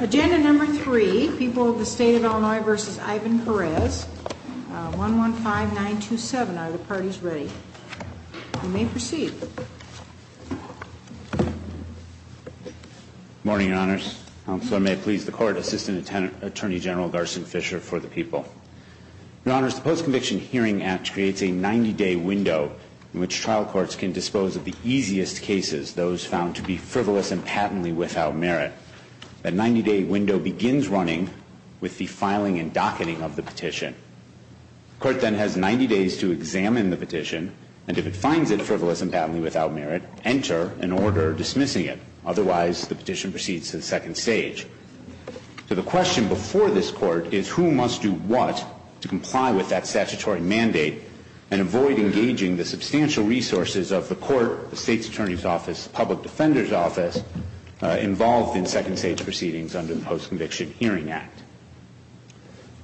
Agenda number three, People of the State of Illinois v. Ivan Perez, 115927. Are the parties ready? You may proceed. Good morning, Your Honors. Counselor, may it please the Court, Assistant Attorney General Garson Fisher for the people. Your Honors, the Post-Conviction Hearing Act creates a 90-day window in which trial courts can dispose of the easiest cases, those found to be frivolous and patently without merit. The 90-day window begins running with the filing and docketing of the petition. The Court then has 90 days to examine the petition, and if it finds it frivolous and patently without merit, enter an order dismissing it. Otherwise, the petition proceeds to the second stage. So the question before this Court is who must do what to comply with that statutory mandate and avoid engaging the substantial resources of the Court, the State's Attorney's Office, the Public Defender's Office, involved in second stage proceedings under the Post-Conviction Hearing Act.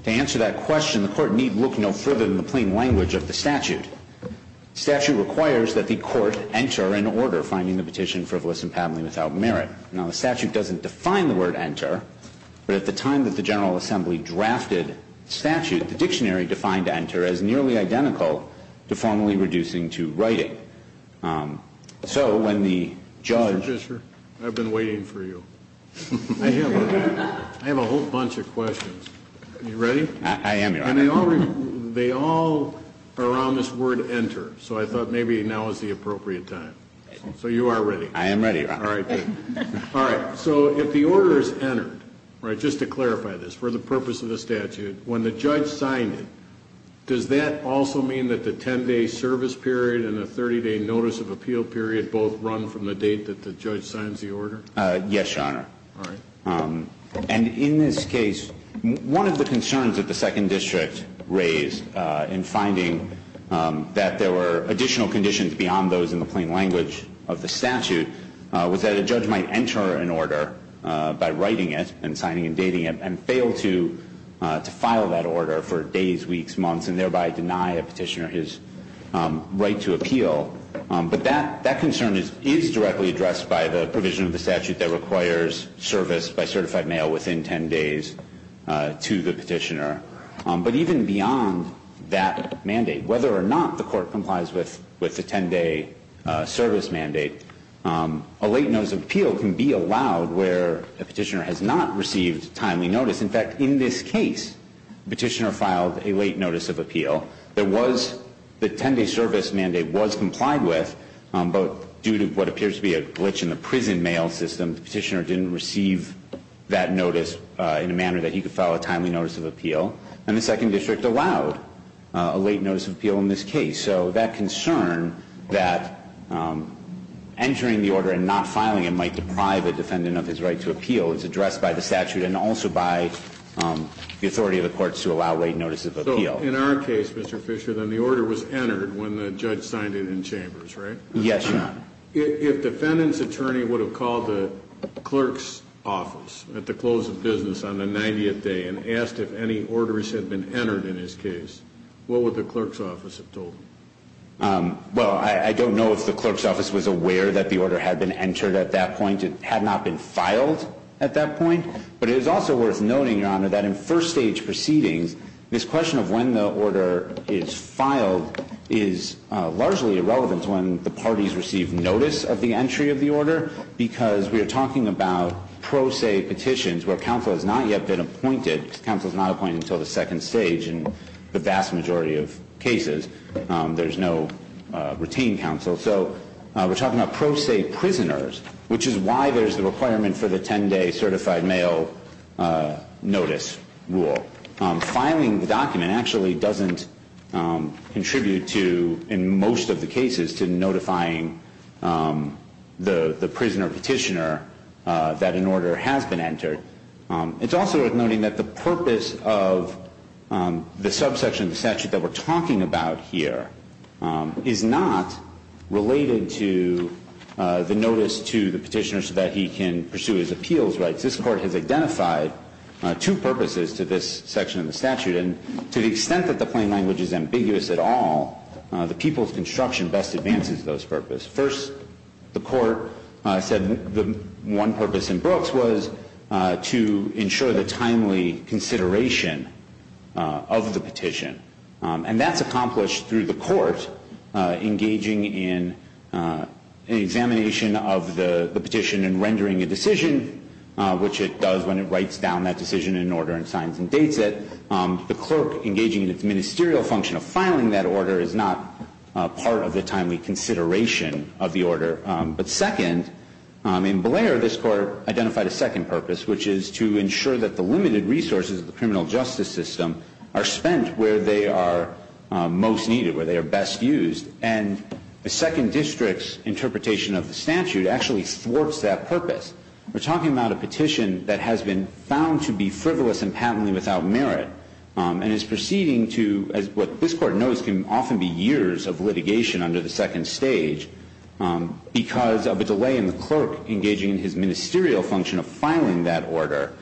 To answer that question, the Court need look no further than the plain language of the statute. The statute requires that the Court enter an order finding the petition frivolous and patently without merit. Now, the statute doesn't define the word enter, but at the time that the General Assembly drafted the statute, the dictionary defined enter as nearly identical to formally reducing to writing. So when the judge ---- Mr. Fisher, I've been waiting for you. I have a whole bunch of questions. Are you ready? I am, Your Honor. And they all are around this word enter, so I thought maybe now is the appropriate time. So you are ready? I am ready, Your Honor. All right. All right. So if the order is entered, right, just to clarify this, for the purpose of the statute, when the judge signed it, does that also mean that the 10-day service period and the 30-day notice of appeal period both run from the date that the judge signs the order? Yes, Your Honor. All right. And in this case, one of the concerns that the Second District raised in finding that there were additional conditions beyond those in the plain language of the statute was that a judge might enter an order by writing it and signing and dating it and fail to file that order for days, weeks, months, and thereby deny a petitioner his right to appeal. But that concern is directly addressed by the provision of the statute that requires service by certified mail within 10 days to the petitioner. But even beyond that mandate, whether or not the court complies with the 10-day service mandate, a late notice of appeal can be allowed where a petitioner has not received timely notice. In fact, in this case, the petitioner filed a late notice of appeal. The 10-day service mandate was complied with, but due to what appears to be a glitch in the prison mail system, the petitioner didn't receive that notice in a manner that he could file a timely notice of appeal. And the Second District allowed a late notice of appeal in this case. So that concern that entering the order and not filing it might deprive a defendant of his right to appeal is addressed by the statute and also by the authority of the courts to allow late notice of appeal. So in our case, Mr. Fisher, then the order was entered when the judge signed it in chambers, right? Yes, Your Honor. If the defendant's attorney would have called the clerk's office at the close of business on the 90th day and asked if any orders had been entered in his case, what would the clerk's office have told him? Well, I don't know if the clerk's office was aware that the order had been entered at that point. It had not been filed at that point. But it is also worth noting, Your Honor, that in first-stage proceedings, this question of when the order is filed is largely irrelevant when the parties receive notice of the entry of the order because we are talking about pro se petitions where counsel has not yet been appointed. Counsel is not appointed until the second stage in the vast majority of cases. There's no retained counsel. So we're talking about pro se prisoners, which is why there's the requirement for the 10-day certified mail notice rule. Filing the document actually doesn't contribute to, in most of the cases, to notifying the prisoner or petitioner that an order has been entered. It's also worth noting that the purpose of the subsection of the statute that we're talking about here is not related to the notice to the petitioner so that he can pursue his appeals rights. This Court has identified two purposes to this section of the statute. And to the extent that the plain language is ambiguous at all, the people's construction best advances those purposes. First, the Court said the one purpose in Brooks was to ensure the timely consideration of the petition. And that's accomplished through the Court engaging in an examination of the petition and rendering a decision, which it does when it writes down that decision in order and signs and dates it. The clerk engaging in its ministerial function of filing that order is not part of the timely consideration of the order. But second, in Blair, this Court identified a second purpose, which is to ensure that the limited resources of the criminal justice system are spent where they are most needed, where they are best used. And the Second District's interpretation of the statute actually thwarts that purpose. We're talking about a petition that has been found to be frivolous and patently without merit and is proceeding to what this Court knows can often be years of litigation under the second stage because of a delay in the clerk engaging in his ministerial function of filing that order,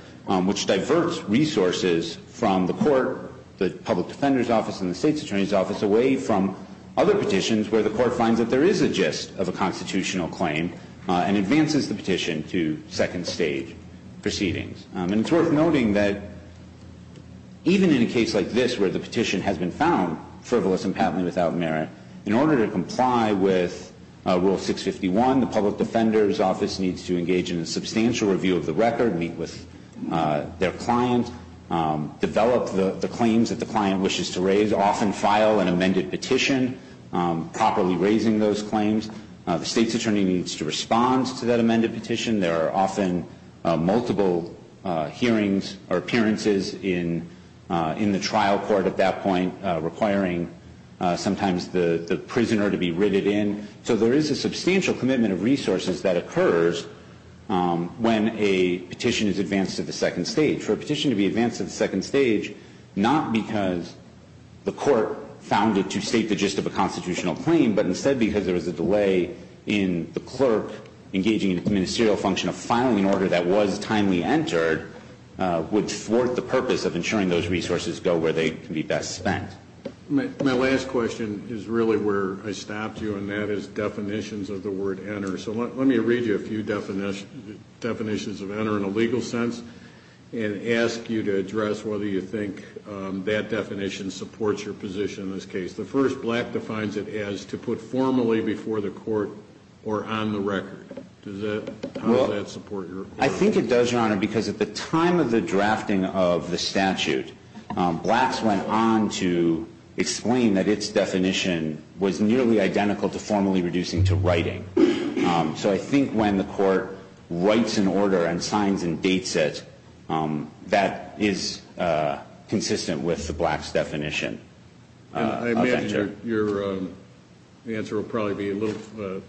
which diverts resources from the Court, the public defender's office, and the State's attorney's office away from other petitions where the Court finds that there is a gist of a constitutional claim and advances the petition to second stage proceedings. And it's worth noting that even in a case like this where the petition has been found frivolous and patently without merit, in order to comply with Rule 651, the public defender's office needs to engage in a substantial review of the record, meet with their client, develop the claims that the client wishes to raise, often file an amended petition properly raising those claims. The State's attorney needs to respond to that amended petition. There are often multiple hearings or appearances in the trial court at that point requiring sometimes the prisoner to be riveted in. So there is a substantial commitment of resources that occurs when a petition is advanced to the second stage. For a petition to be advanced to the second stage, not because the Court found it to state the gist of a constitutional claim, but instead because there was a delay in the clerk engaging in the ministerial function of filing an order that was timely entered, would thwart the purpose of ensuring those resources go where they can be best spent. My last question is really where I stopped you, and that is definitions of the word enter. So let me read you a few definitions of enter in a legal sense and ask you to address whether you think that definition supports your position in this case. The first, Black defines it as to put formally before the Court or on the record. How does that support your position? I think it does, Your Honor, because at the time of the drafting of the statute, Blacks went on to explain that its definition was nearly identical to formally reducing to writing. So I think when the Court writes an order and signs and dates it, that is consistent with the Blacks' definition. I imagine your answer will probably be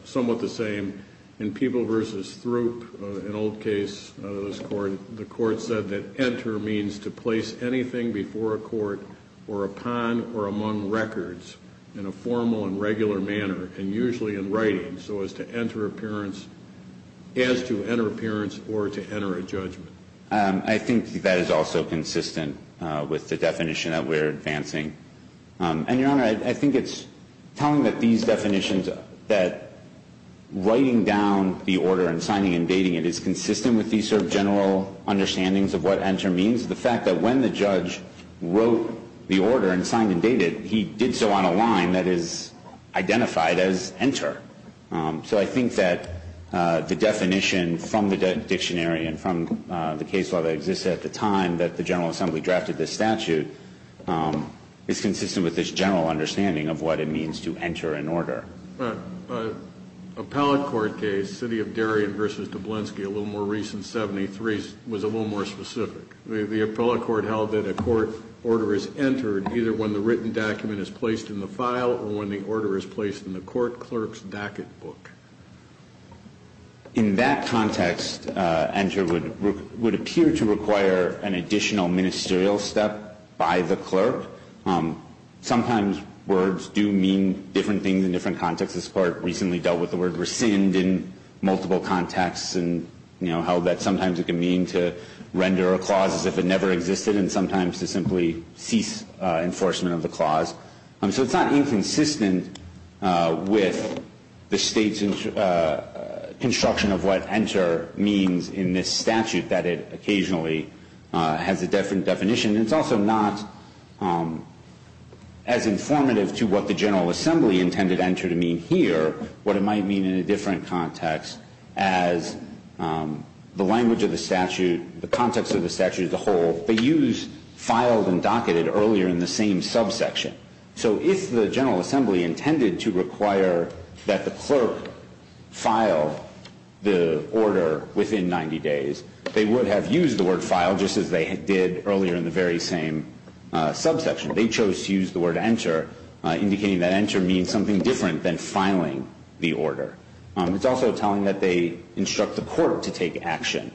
somewhat the same. In Peeble v. Throop, an old case of this Court, the Court said that enter means to place anything before a court or upon or among records in a formal and regular manner, and usually in writing, so as to enter appearance or to enter a judgment. I think that is also consistent with the definition that we're advancing. And, Your Honor, I think it's telling that these definitions, that writing down the order and signing and dating it, is consistent with these sort of general understandings of what enter means. The fact that when the judge wrote the order and signed and dated, he did so on a line that is identified as enter. So I think that the definition from the dictionary and from the case law that exists at the time that the General Assembly drafted this statute is consistent with this general understanding of what it means to enter an order. Appellate court case, City of Darien v. Doblinsky, a little more recent, 73, was a little more specific. The appellate court held that a court order is entered either when the written document is placed in the file or when the order is placed in the court clerk's dacet book. In that context, enter would appear to require an additional ministerial step by the clerk. Sometimes words do mean different things in different contexts. This court recently dealt with the word rescind in multiple contexts and how that sometimes it can mean to render a clause as if it never existed and sometimes to simply cease enforcement of the clause. So it's not inconsistent with the State's construction of what enter means in this statute that it occasionally has a different definition. It's also not as informative to what the General Assembly intended enter to mean here, what it might mean in a different context as the language of the statute, the context of the statute as a whole. They use filed and docketed earlier in the same subsection. So if the General Assembly intended to require that the clerk file the order within 90 days, they would have used the word file just as they did earlier in the very same subsection. They chose to use the word enter, indicating that enter means something different than filing the order. It's also telling that they instruct the court to take action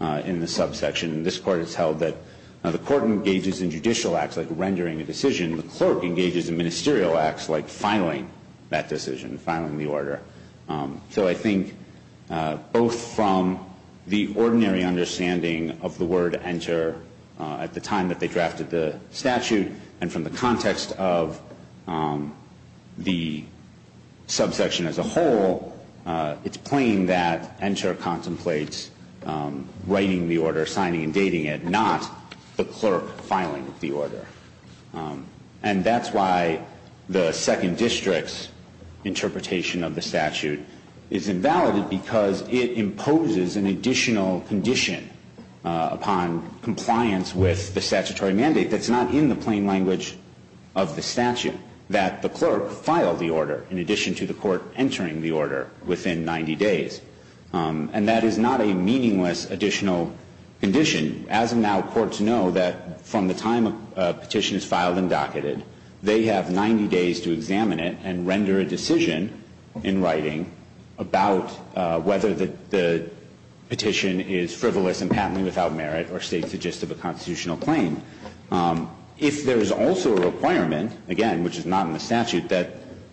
in the subsection. This Court has held that the court engages in judicial acts like rendering a decision. The clerk engages in ministerial acts like filing that decision, filing the order. So I think both from the ordinary understanding of the word enter at the time that they drafted the statute and from the context of the subsection as a whole, it's plain that enter contemplates writing the order, signing and dating it, not the clerk filing the order. And that's why the Second District's interpretation of the statute is invalidated because it imposes an additional condition upon compliance with the statutory mandate that's not in the plain language of the statute, that the clerk file the order in addition to the court entering the order within 90 days. And that is not a meaningless additional condition. As of now, courts know that from the time a petition is filed and docketed, they have 90 days to examine it and render a decision in writing about whether the petition is frivolous and patently without merit or states the gist of a constitutional claim. If there is also a requirement, again, which is not in the statute, that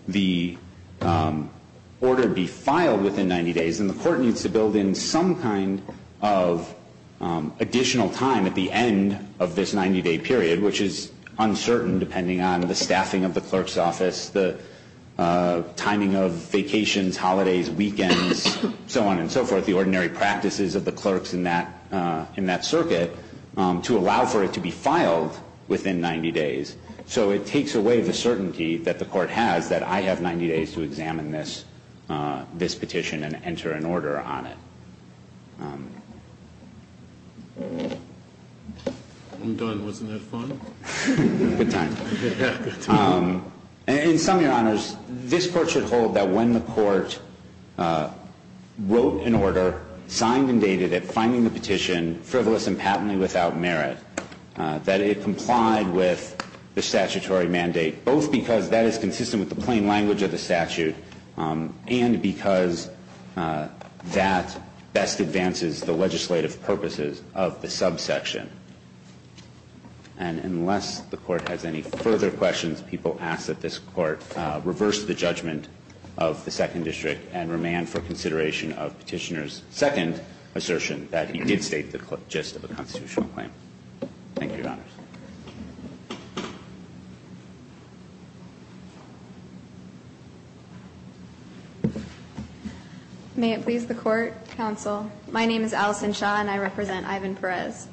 the order be filed within 90 days, then the court needs to build in some kind of additional time at the end of this 90-day period, which is uncertain depending on the staffing of the clerk's office, the timing of vacations, holidays, weekends, so on and so forth, the ordinary practices of the clerks in that circuit to allow for it to be filed within 90 days. So it takes away the certainty that the court has that I have 90 days to examine this petition and enter an order on it. I'm done. Wasn't that fun? Good time. Yeah, good time. In sum, Your Honors, this Court should hold that when the court wrote an order, signed and dated it, finding the petition frivolous and patently without merit, that it complied with the statutory mandate, both because that is consistent with the plain language of the statute and because that best advances the legislative purposes of the subsection. And unless the Court has any further questions, people ask that this Court reverse the judgment of the Second District and remand for consideration of Petitioner's second assertion that he did state the gist of a constitutional claim. Thank you, Your Honors. May it please the Court, Counsel. My name is Allison Shaw, and I represent Ivan Perez.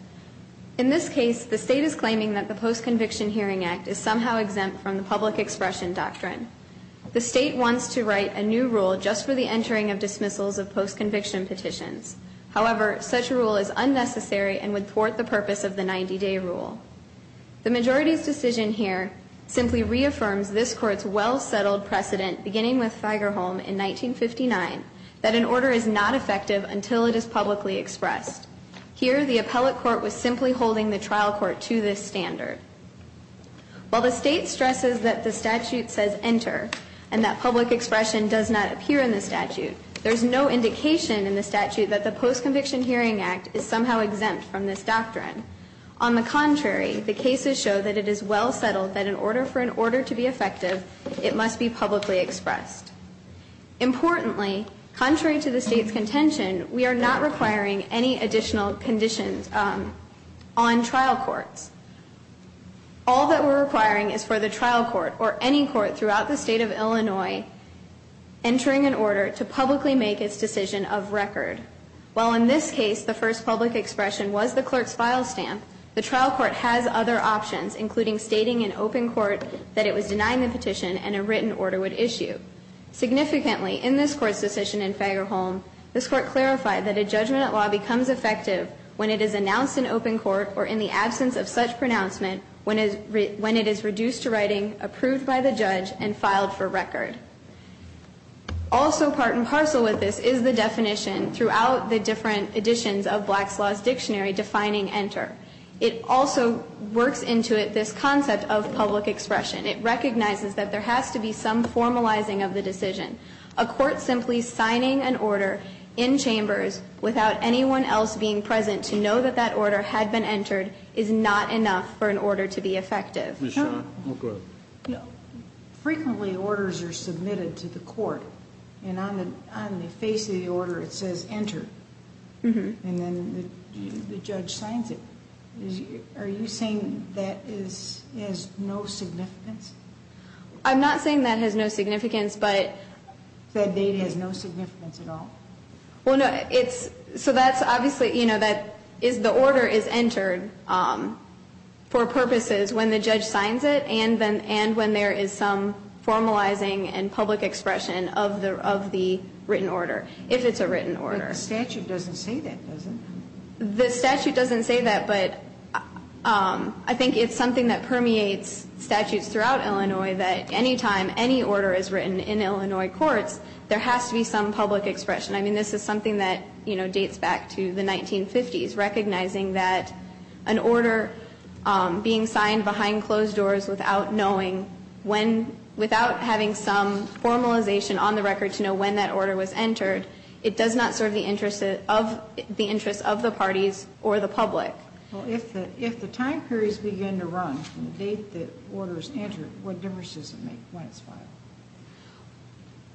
In this case, the State is claiming that the Post-Conviction Hearing Act is somehow exempt from the public expression doctrine. The State wants to write a new rule just for the entering of dismissals of post-conviction petitions. However, such a rule is unnecessary and would thwart the purpose of the 90-day rule. The majority's decision here simply reaffirms this Court's well-settled precedent, beginning with Fagerholm in 1959, that an order is not effective until it is publicly expressed. Here, the appellate court was simply holding the trial court to this standard. While the State stresses that the statute says enter and that public expression does not appear in the statute, there is no indication in the statute that the Post-Conviction Hearing Act is somehow exempt from this doctrine. On the contrary, the cases show that it is well-settled that in order for an order to be effective, it must be publicly expressed. Importantly, contrary to the State's contention, we are not requiring any additional conditions on trial courts. All that we're requiring is for the trial court or any court throughout the State of Illinois entering an order to publicly make its decision of record. While in this case the first public expression was the clerk's file stamp, the trial court has other options, including stating in open court that it was denying the petition and a written order would issue. Significantly, in this Court's decision in Fagerholm, this Court clarified that a judgment at law becomes effective when it is announced in open court or in the absence of such pronouncement when it is reduced to writing, approved by the judge, and filed for record. Also part and parcel with this is the definition throughout the different editions of Black's Law's dictionary defining enter. It also works into it this concept of public expression. It recognizes that there has to be some formalizing of the decision. A court simply signing an order in chambers without anyone else being present to know that that order had been entered is not enough for an order to be effective. Ms. Shah. Go ahead. Frequently orders are submitted to the court, and on the face of the order it says enter. And then the judge signs it. Are you saying that is, has no significance? I'm not saying that has no significance, but. That data has no significance at all? Well, no, it's, so that's obviously, you know, that is, the order is entered for purposes when the judge signs it and when there is some formalizing and public expression of the written order, if it's a written order. But the statute doesn't say that, does it? The statute doesn't say that, but I think it's something that permeates statutes throughout Illinois that any time any order is written in Illinois courts, there has to be some public expression. I mean, this is something that, you know, dates back to the 1950s, recognizing that an order being signed behind closed doors without knowing when, without having some formalization on the record to know when that order was entered, it does not serve the interest of the parties or the public. Well, if the time periods begin to run from the date the order is entered, what difference does it make when it's filed?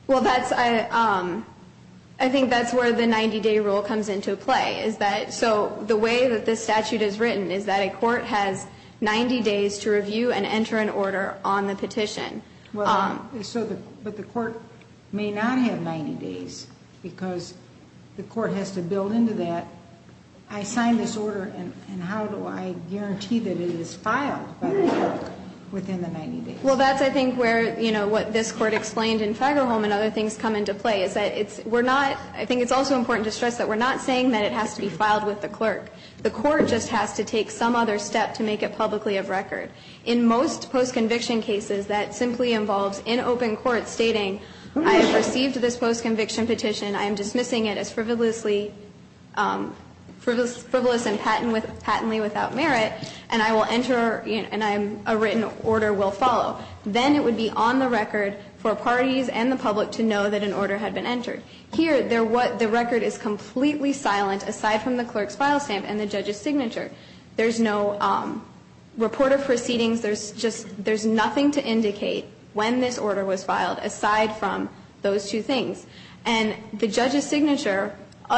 Well, that's, I think that's where the 90-day rule comes into play, is that, so the way that this statute is written is that a court has 90 days to review and enter an order on the petition. Well, so the, but the court may not have 90 days because the court has to build into that, I signed this order and how do I guarantee that it is filed by the court within the 90 days? Well, that's, I think, where, you know, what this Court explained in Fagerholm and other things come into play, is that it's, we're not, I think it's also important to stress that we're not saying that it has to be filed with the clerk. The court just has to take some other step to make it publicly of record. In most post-conviction cases, that simply involves in open court stating, I have received this post-conviction petition, I am dismissing it as frivolously, frivolous and patently without merit, and I will enter, and a written order will follow. Then it would be on the record for parties and the public to know that an order had been entered. Here, the record is completely silent aside from the clerk's file stamp and the judge's signature. There's no report of proceedings. There's just, there's nothing to indicate when this order was filed aside from those two things. And the judge's signature,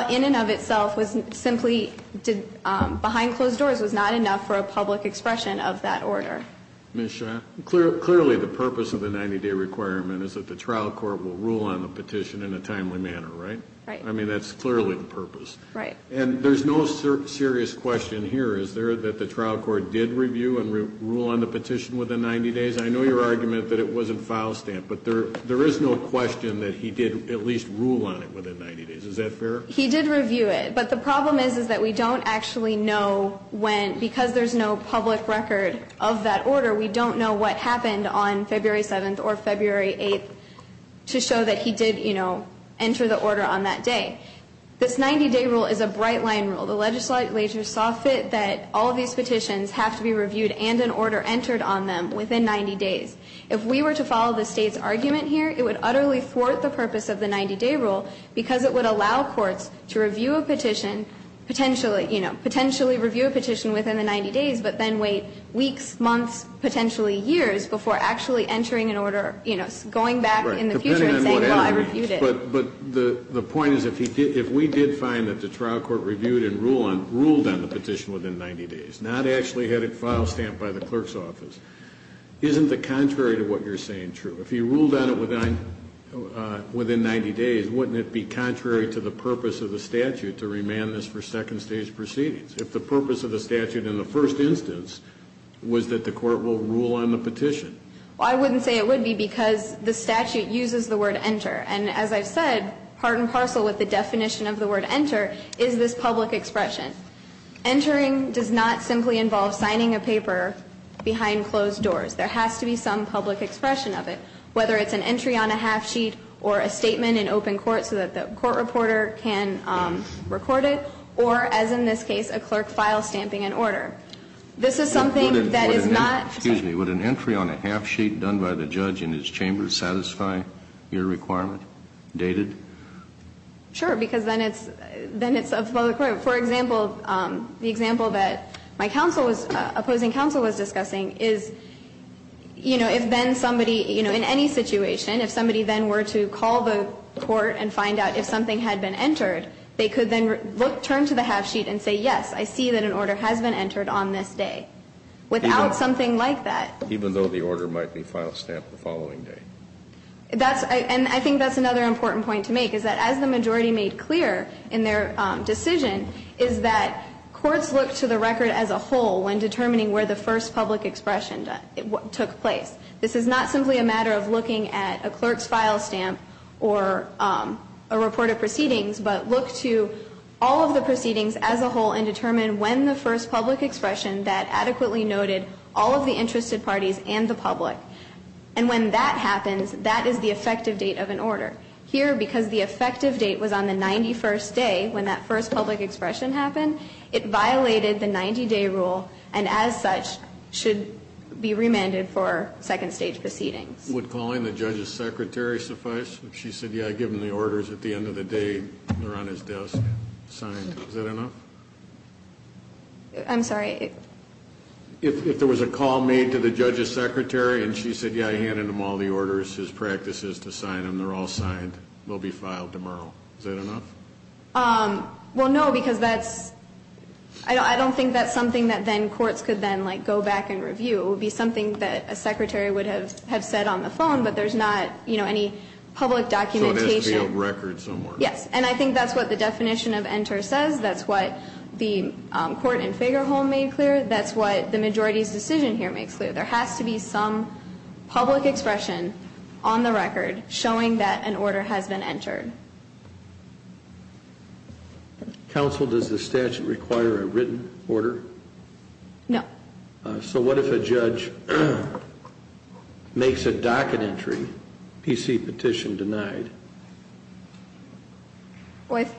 in and of itself, was simply, behind closed doors, was not enough for a public expression of that order. Ms. Shah, clearly the purpose of the 90-day requirement is that the trial court will rule on the petition in a timely manner, right? Right. I mean, that's clearly the purpose. Right. And there's no serious question here, is there, that the trial court did review and rule on the petition within 90 days? I know your argument that it wasn't file stamped, but there is no question that he did at least rule on it within 90 days. Is that fair? He did review it. But the problem is that we don't actually know when, because there's no public record of that order, we don't know what happened on February 7th or February 8th to show that he did, you know, enter the order on that day. This 90-day rule is a bright-line rule. The legislature saw fit that all of these petitions have to be reviewed and an order entered on them within 90 days. If we were to follow the State's argument here, it would utterly thwart the purpose of the 90-day rule, because it would allow courts to review a petition, potentially you know, potentially review a petition within the 90 days, but then wait weeks, months, potentially years before actually entering an order, you know, going back in the future and saying, well, I reviewed it. But the point is if we did find that the trial court reviewed and ruled on the petition within 90 days, not actually had it file stamped by the clerk's office, isn't the contrary to what you're saying true? If he ruled on it within 90 days, wouldn't it be contrary to the purpose of the statute to remand this for second stage proceedings? If the purpose of the statute in the first instance was that the court will rule on the petition. Well, I wouldn't say it would be, because the statute uses the word enter. And as I've said, part and parcel with the definition of the word enter is this public expression. Entering does not simply involve signing a paper behind closed doors. There has to be some public expression of it, whether it's an entry on a half sheet or a statement in open court so that the court reporter can record it, or, as in this case, a clerk file stamping an order. This is something that is not. Kennedy, would an entry on a half sheet done by the judge in his chamber satisfy your requirement? Dated? Sure, because then it's a public record. For example, the example that my counsel was, opposing counsel was discussing, is, you know, if then somebody, you know, in any situation, if somebody then were to call the court and find out if something had been entered, they could then turn to the half sheet and say, yes, I see that an order has been entered on this day. Without something like that. Even though the order might be file stamped the following day. That's, and I think that's another important point to make, is that as the majority of the cases that we've looked at so far, what they've done, and what they made clear in their decision, is that courts look to the record as a whole when determining where the first public expression took place. This is not simply a matter of looking at a clerk's file stamp or a report of proceedings, but look to all of the proceedings as a whole and determine when the first public expression that adequately noted all of the interested parties and the public. And when that happens, that is the effective date of an order. Here, because the effective date was on the 91st day, when that first public expression happened, it violated the 90-day rule, and as such, should be remanded for second stage proceedings. Would calling the judge's secretary suffice? If she said, yeah, give him the orders at the end of the day, they're on his desk, signed, is that enough? I'm sorry. If there was a call made to the judge's secretary and she said, yeah, I handed him all the orders, his practices to sign them, they're all signed, they'll be filed tomorrow, is that enough? Well, no, because that's, I don't think that's something that then courts could then go back and review. It would be something that a secretary would have said on the phone, but there's not any public documentation. So it has to be on record somewhere. Yes. And I think that's what the definition of enter says. That's what the court in Fagerholm made clear. That's what the majority's decision here makes clear. There has to be some public expression on the record showing that an order has been entered. Counsel, does the statute require a written order? No. So what if a judge makes a docket entry, PC petition denied? What if?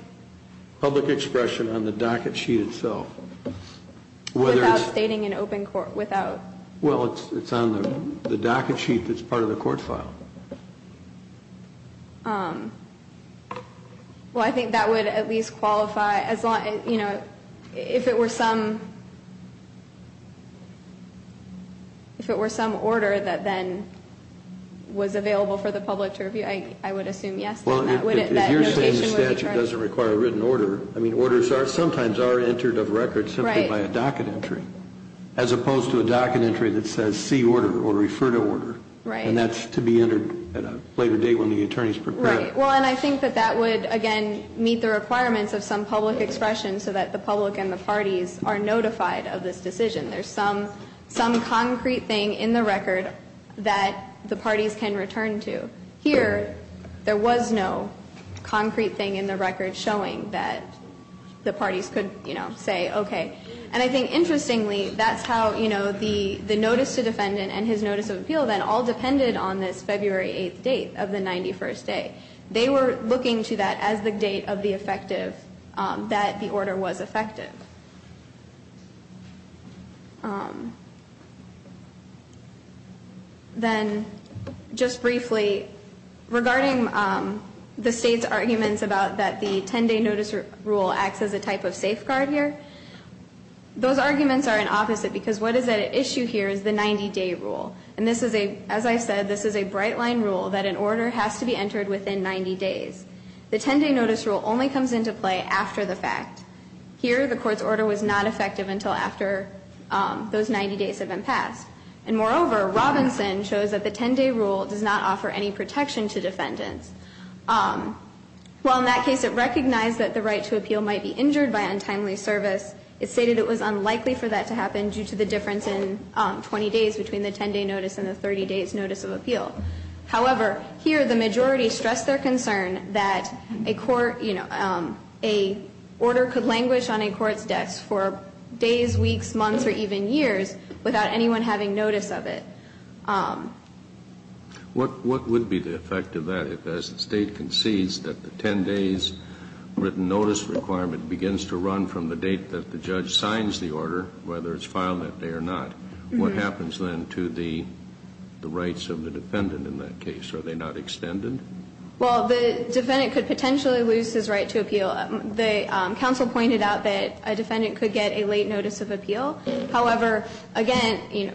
Public expression on the docket sheet itself. Without stating in open court, without? Well, it's on the docket sheet that's part of the court file. Well, I think that would at least qualify as long as, you know, if it were some order that then was available for the public to review, I would assume yes. Well, if you're saying the statute doesn't require a written order, I mean, orders sometimes are entered of record simply by a docket entry. Right. As opposed to a docket entry that says see order or refer to order. Right. And that's to be entered at a later date when the attorney is prepared. Right. Well, and I think that that would, again, meet the requirements of some public expression so that the public and the parties are notified of this decision. There's some concrete thing in the record that the parties can return to. Here, there was no concrete thing in the record showing that the parties could, you know, say okay. And I think interestingly, that's how, you know, the notice to defendant and his notice of appeal then all depended on this February 8th date of the 91st day. They were looking to that as the date of the effective, that the order was effective. Then, just briefly, regarding the State's arguments about that the 10-day notice rule acts as a type of safeguard here, those arguments are an opposite because what is at issue here is the 90-day rule. And this is a, as I said, this is a bright line rule that an order has to be entered within 90 days. The 10-day notice rule only comes into play after the fact. Here, the Court's order was not effective until after those 90 days had been passed. And moreover, Robinson shows that the 10-day rule does not offer any protection to defendants. While in that case it recognized that the right to appeal might be injured by untimely service, it stated it was unlikely for that to happen due to the difference in 20 days between the 10-day notice and the 30 days notice of appeal. However, here the majority stressed their concern that a court, you know, a order could languish on a court's desk for days, weeks, months, or even years without anyone having notice of it. What would be the effect of that if, as the State concedes that the 10-days written notice requirement begins to run from the date that the judge signs the order, whether it's filed that day or not? What happens then to the rights of the defendant in that case? Are they not extended? Well, the defendant could potentially lose his right to appeal. The counsel pointed out that a defendant could get a late notice of appeal. However, again, you know,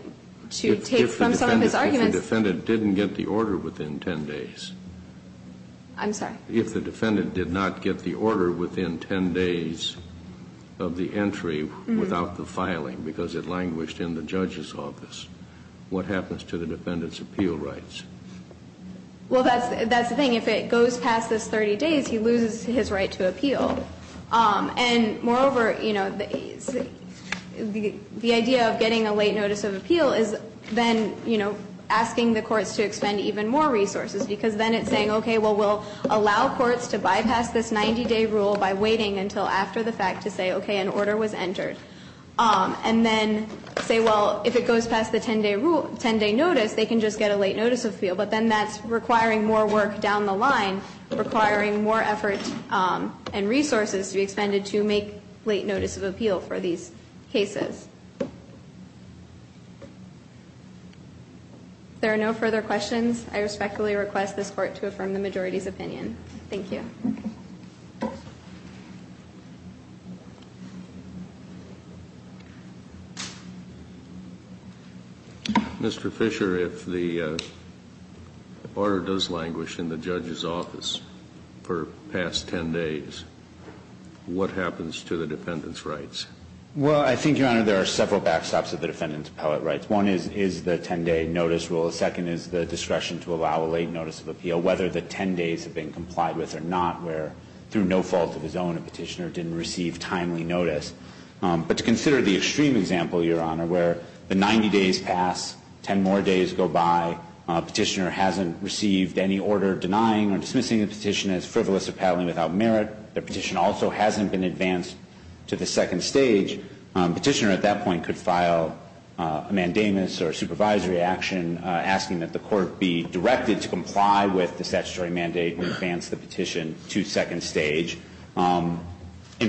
to take from some of his arguments. If the defendant didn't get the order within 10 days. I'm sorry? If the defendant did not get the order within 10 days of the entry without the filing because it languished in the judge's office, what happens to the defendant's appeal rights? Well, that's the thing. If it goes past this 30 days, he loses his right to appeal. And moreover, you know, the idea of getting a late notice of appeal is then, you know, asking the courts to expend even more resources because then it's saying, okay, well, we'll allow courts to bypass this 90-day rule by waiting until after the fact to say, okay, an order was entered. And then say, well, if it goes past the 10-day rule, 10-day notice, they can just get a late notice of appeal, but then that's requiring more work down the line, requiring more effort and resources to be expended to make late notice of appeal for these cases. If there are no further questions, I respectfully request this Court to affirm the majority's opinion. Thank you. Mr. Fisher, if the order does languish in the judge's office for past 10 days, what happens to the defendant's rights? Well, I think, Your Honor, there are several backstops of the defendant's appellate rights. One is the 10-day notice rule. The second is the discretion to allow a late notice of appeal, whether the 10 days have been complied with or not. And the third is the discretion to allow a late notice of appeal, whether the 10 days have been complied with or not, where, through no fault of his own, a Petitioner didn't receive timely notice. But to consider the extreme example, Your Honor, where the 90 days pass, 10 more days go by, Petitioner hasn't received any order denying or dismissing the Petitioner as frivolous or peddling without merit. The Petitioner also hasn't been advanced to the second stage. Petitioner, at that point, could file a mandamus or a supervisory action asking that the Court be directed to comply with the statutory mandate and advance the Petition to second stage. In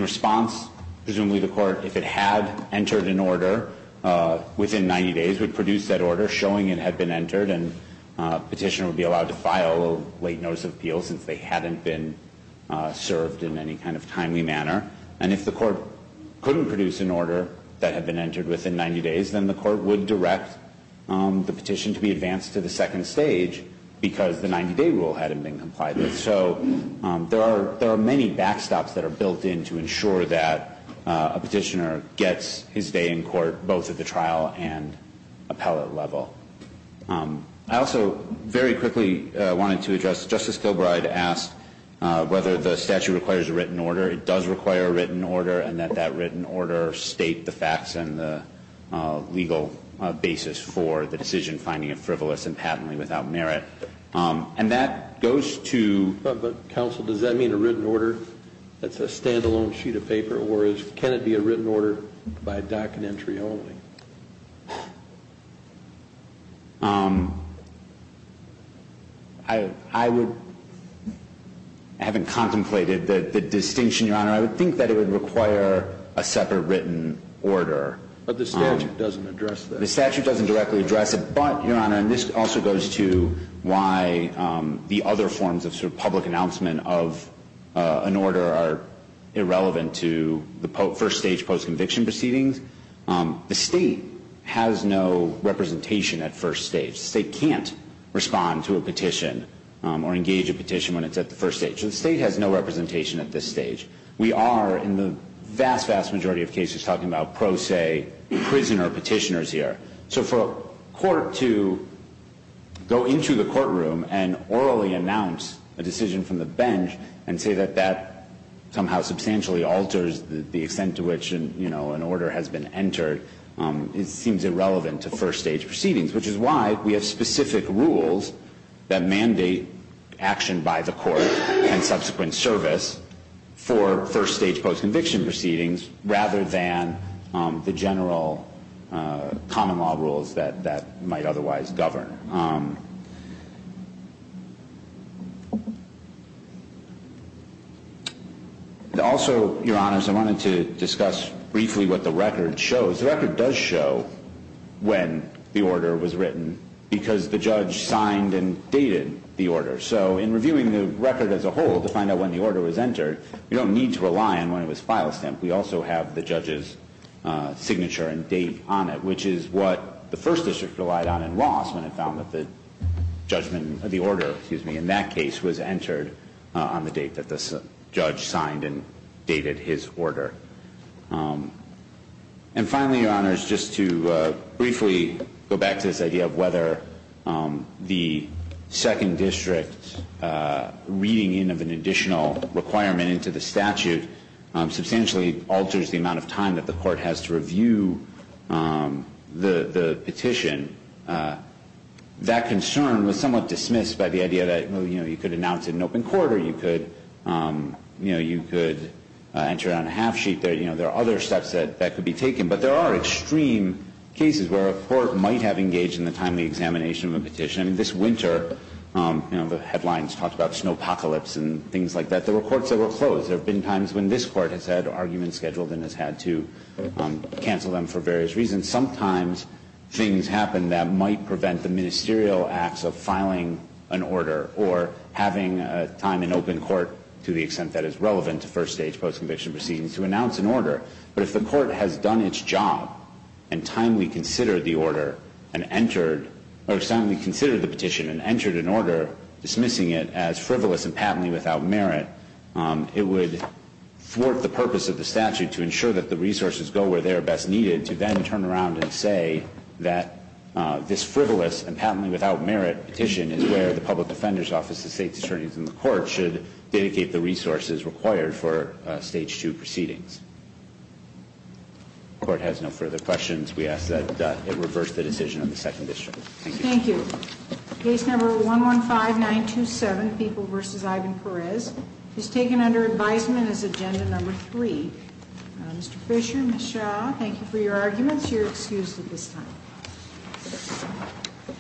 response, presumably the Court, if it had entered an order within 90 days, would produce that order showing it had been entered, and Petitioner would be allowed to file a late notice of appeal since they hadn't been served in any kind of timely manner. And if the Court couldn't produce an order that had been entered within 90 days, then the Court would direct the Petition to be advanced to the second stage because the 90-day rule hadn't been complied with. So there are many backstops that are built in to ensure that a Petitioner gets his day in court, both at the trial and appellate level. I also very quickly wanted to address, Justice Kilbride asked whether the statute requires a written order. It does require a written order, and that that written order state the facts and the legal basis for the decision finding of frivolous and patently without merit. And that goes to the counsel. Does that mean a written order that's a stand-alone sheet of paper, or can it be a written order by docket entry only? I would, having contemplated the distinction, Your Honor, I would think that it would require a separate written order. But the statute doesn't address that. The statute doesn't directly address it. But, Your Honor, and this also goes to why the other forms of sort of public announcement of an order are irrelevant to the first stage post-conviction proceedings. The State has no representation at first stage. The State can't respond to a petition or engage a petition when it's at the first stage. So the State has no representation at this stage. We are, in the vast, vast majority of cases, talking about pro se prisoner Petitioners here. So for a court to go into the courtroom and orally announce a decision from the bench and say that that somehow substantially alters the extent to which, you know, an order has been entered, it seems irrelevant to first stage proceedings, which is why we have specific rules that mandate action by the court and subsequent service for first stage post-conviction proceedings rather than the general common law rules that might otherwise govern. Also, Your Honor, so I wanted to discuss briefly what the record shows. The record does show when the order was written because the judge signed and dated the order. So in reviewing the record as a whole to find out when the order was entered, you don't need to rely on when it was file stamped. We also have the judge's signature and date on it, which is what the first district relied on in Ross when it found out the order was entered. And finally, Your Honor, just to briefly go back to this idea of whether the second district's reading in of an additional requirement into the statute substantially alters the amount of time that the court has to review the petition. That concern was somewhat dismissed by the idea that, you know, you could announce it in open court or you could, you know, you could enter it on a half sheet. There are other steps that could be taken. But there are extreme cases where a court might have engaged in the timely examination of a petition. I mean, this winter, you know, the headlines talked about snowpocalypse and things like that. There were courts that were closed. There have been times when this court has had arguments scheduled and has had to cancel them for various reasons. And sometimes things happen that might prevent the ministerial acts of filing an order or having time in open court, to the extent that is relevant to first stage post-conviction proceedings, to announce an order. But if the court has done its job and timely considered the order and entered or timely considered the petition and entered an order, dismissing it as frivolous and patently without merit, it would thwart the purpose of the statute to ensure that the resources go where they are best needed to then turn around and say that this frivolous and patently without merit petition is where the public defender's office, the state's attorneys, and the court should dedicate the resources required for stage two proceedings. If the court has no further questions, we ask that it reverse the decision on the second district. Thank you. Thank you. Case number 115927, People v. Ivan Perez, is taken under advisement as agenda number three. Mr. Fisher, Ms. Shaw, thank you for your arguments. You're excused at this time.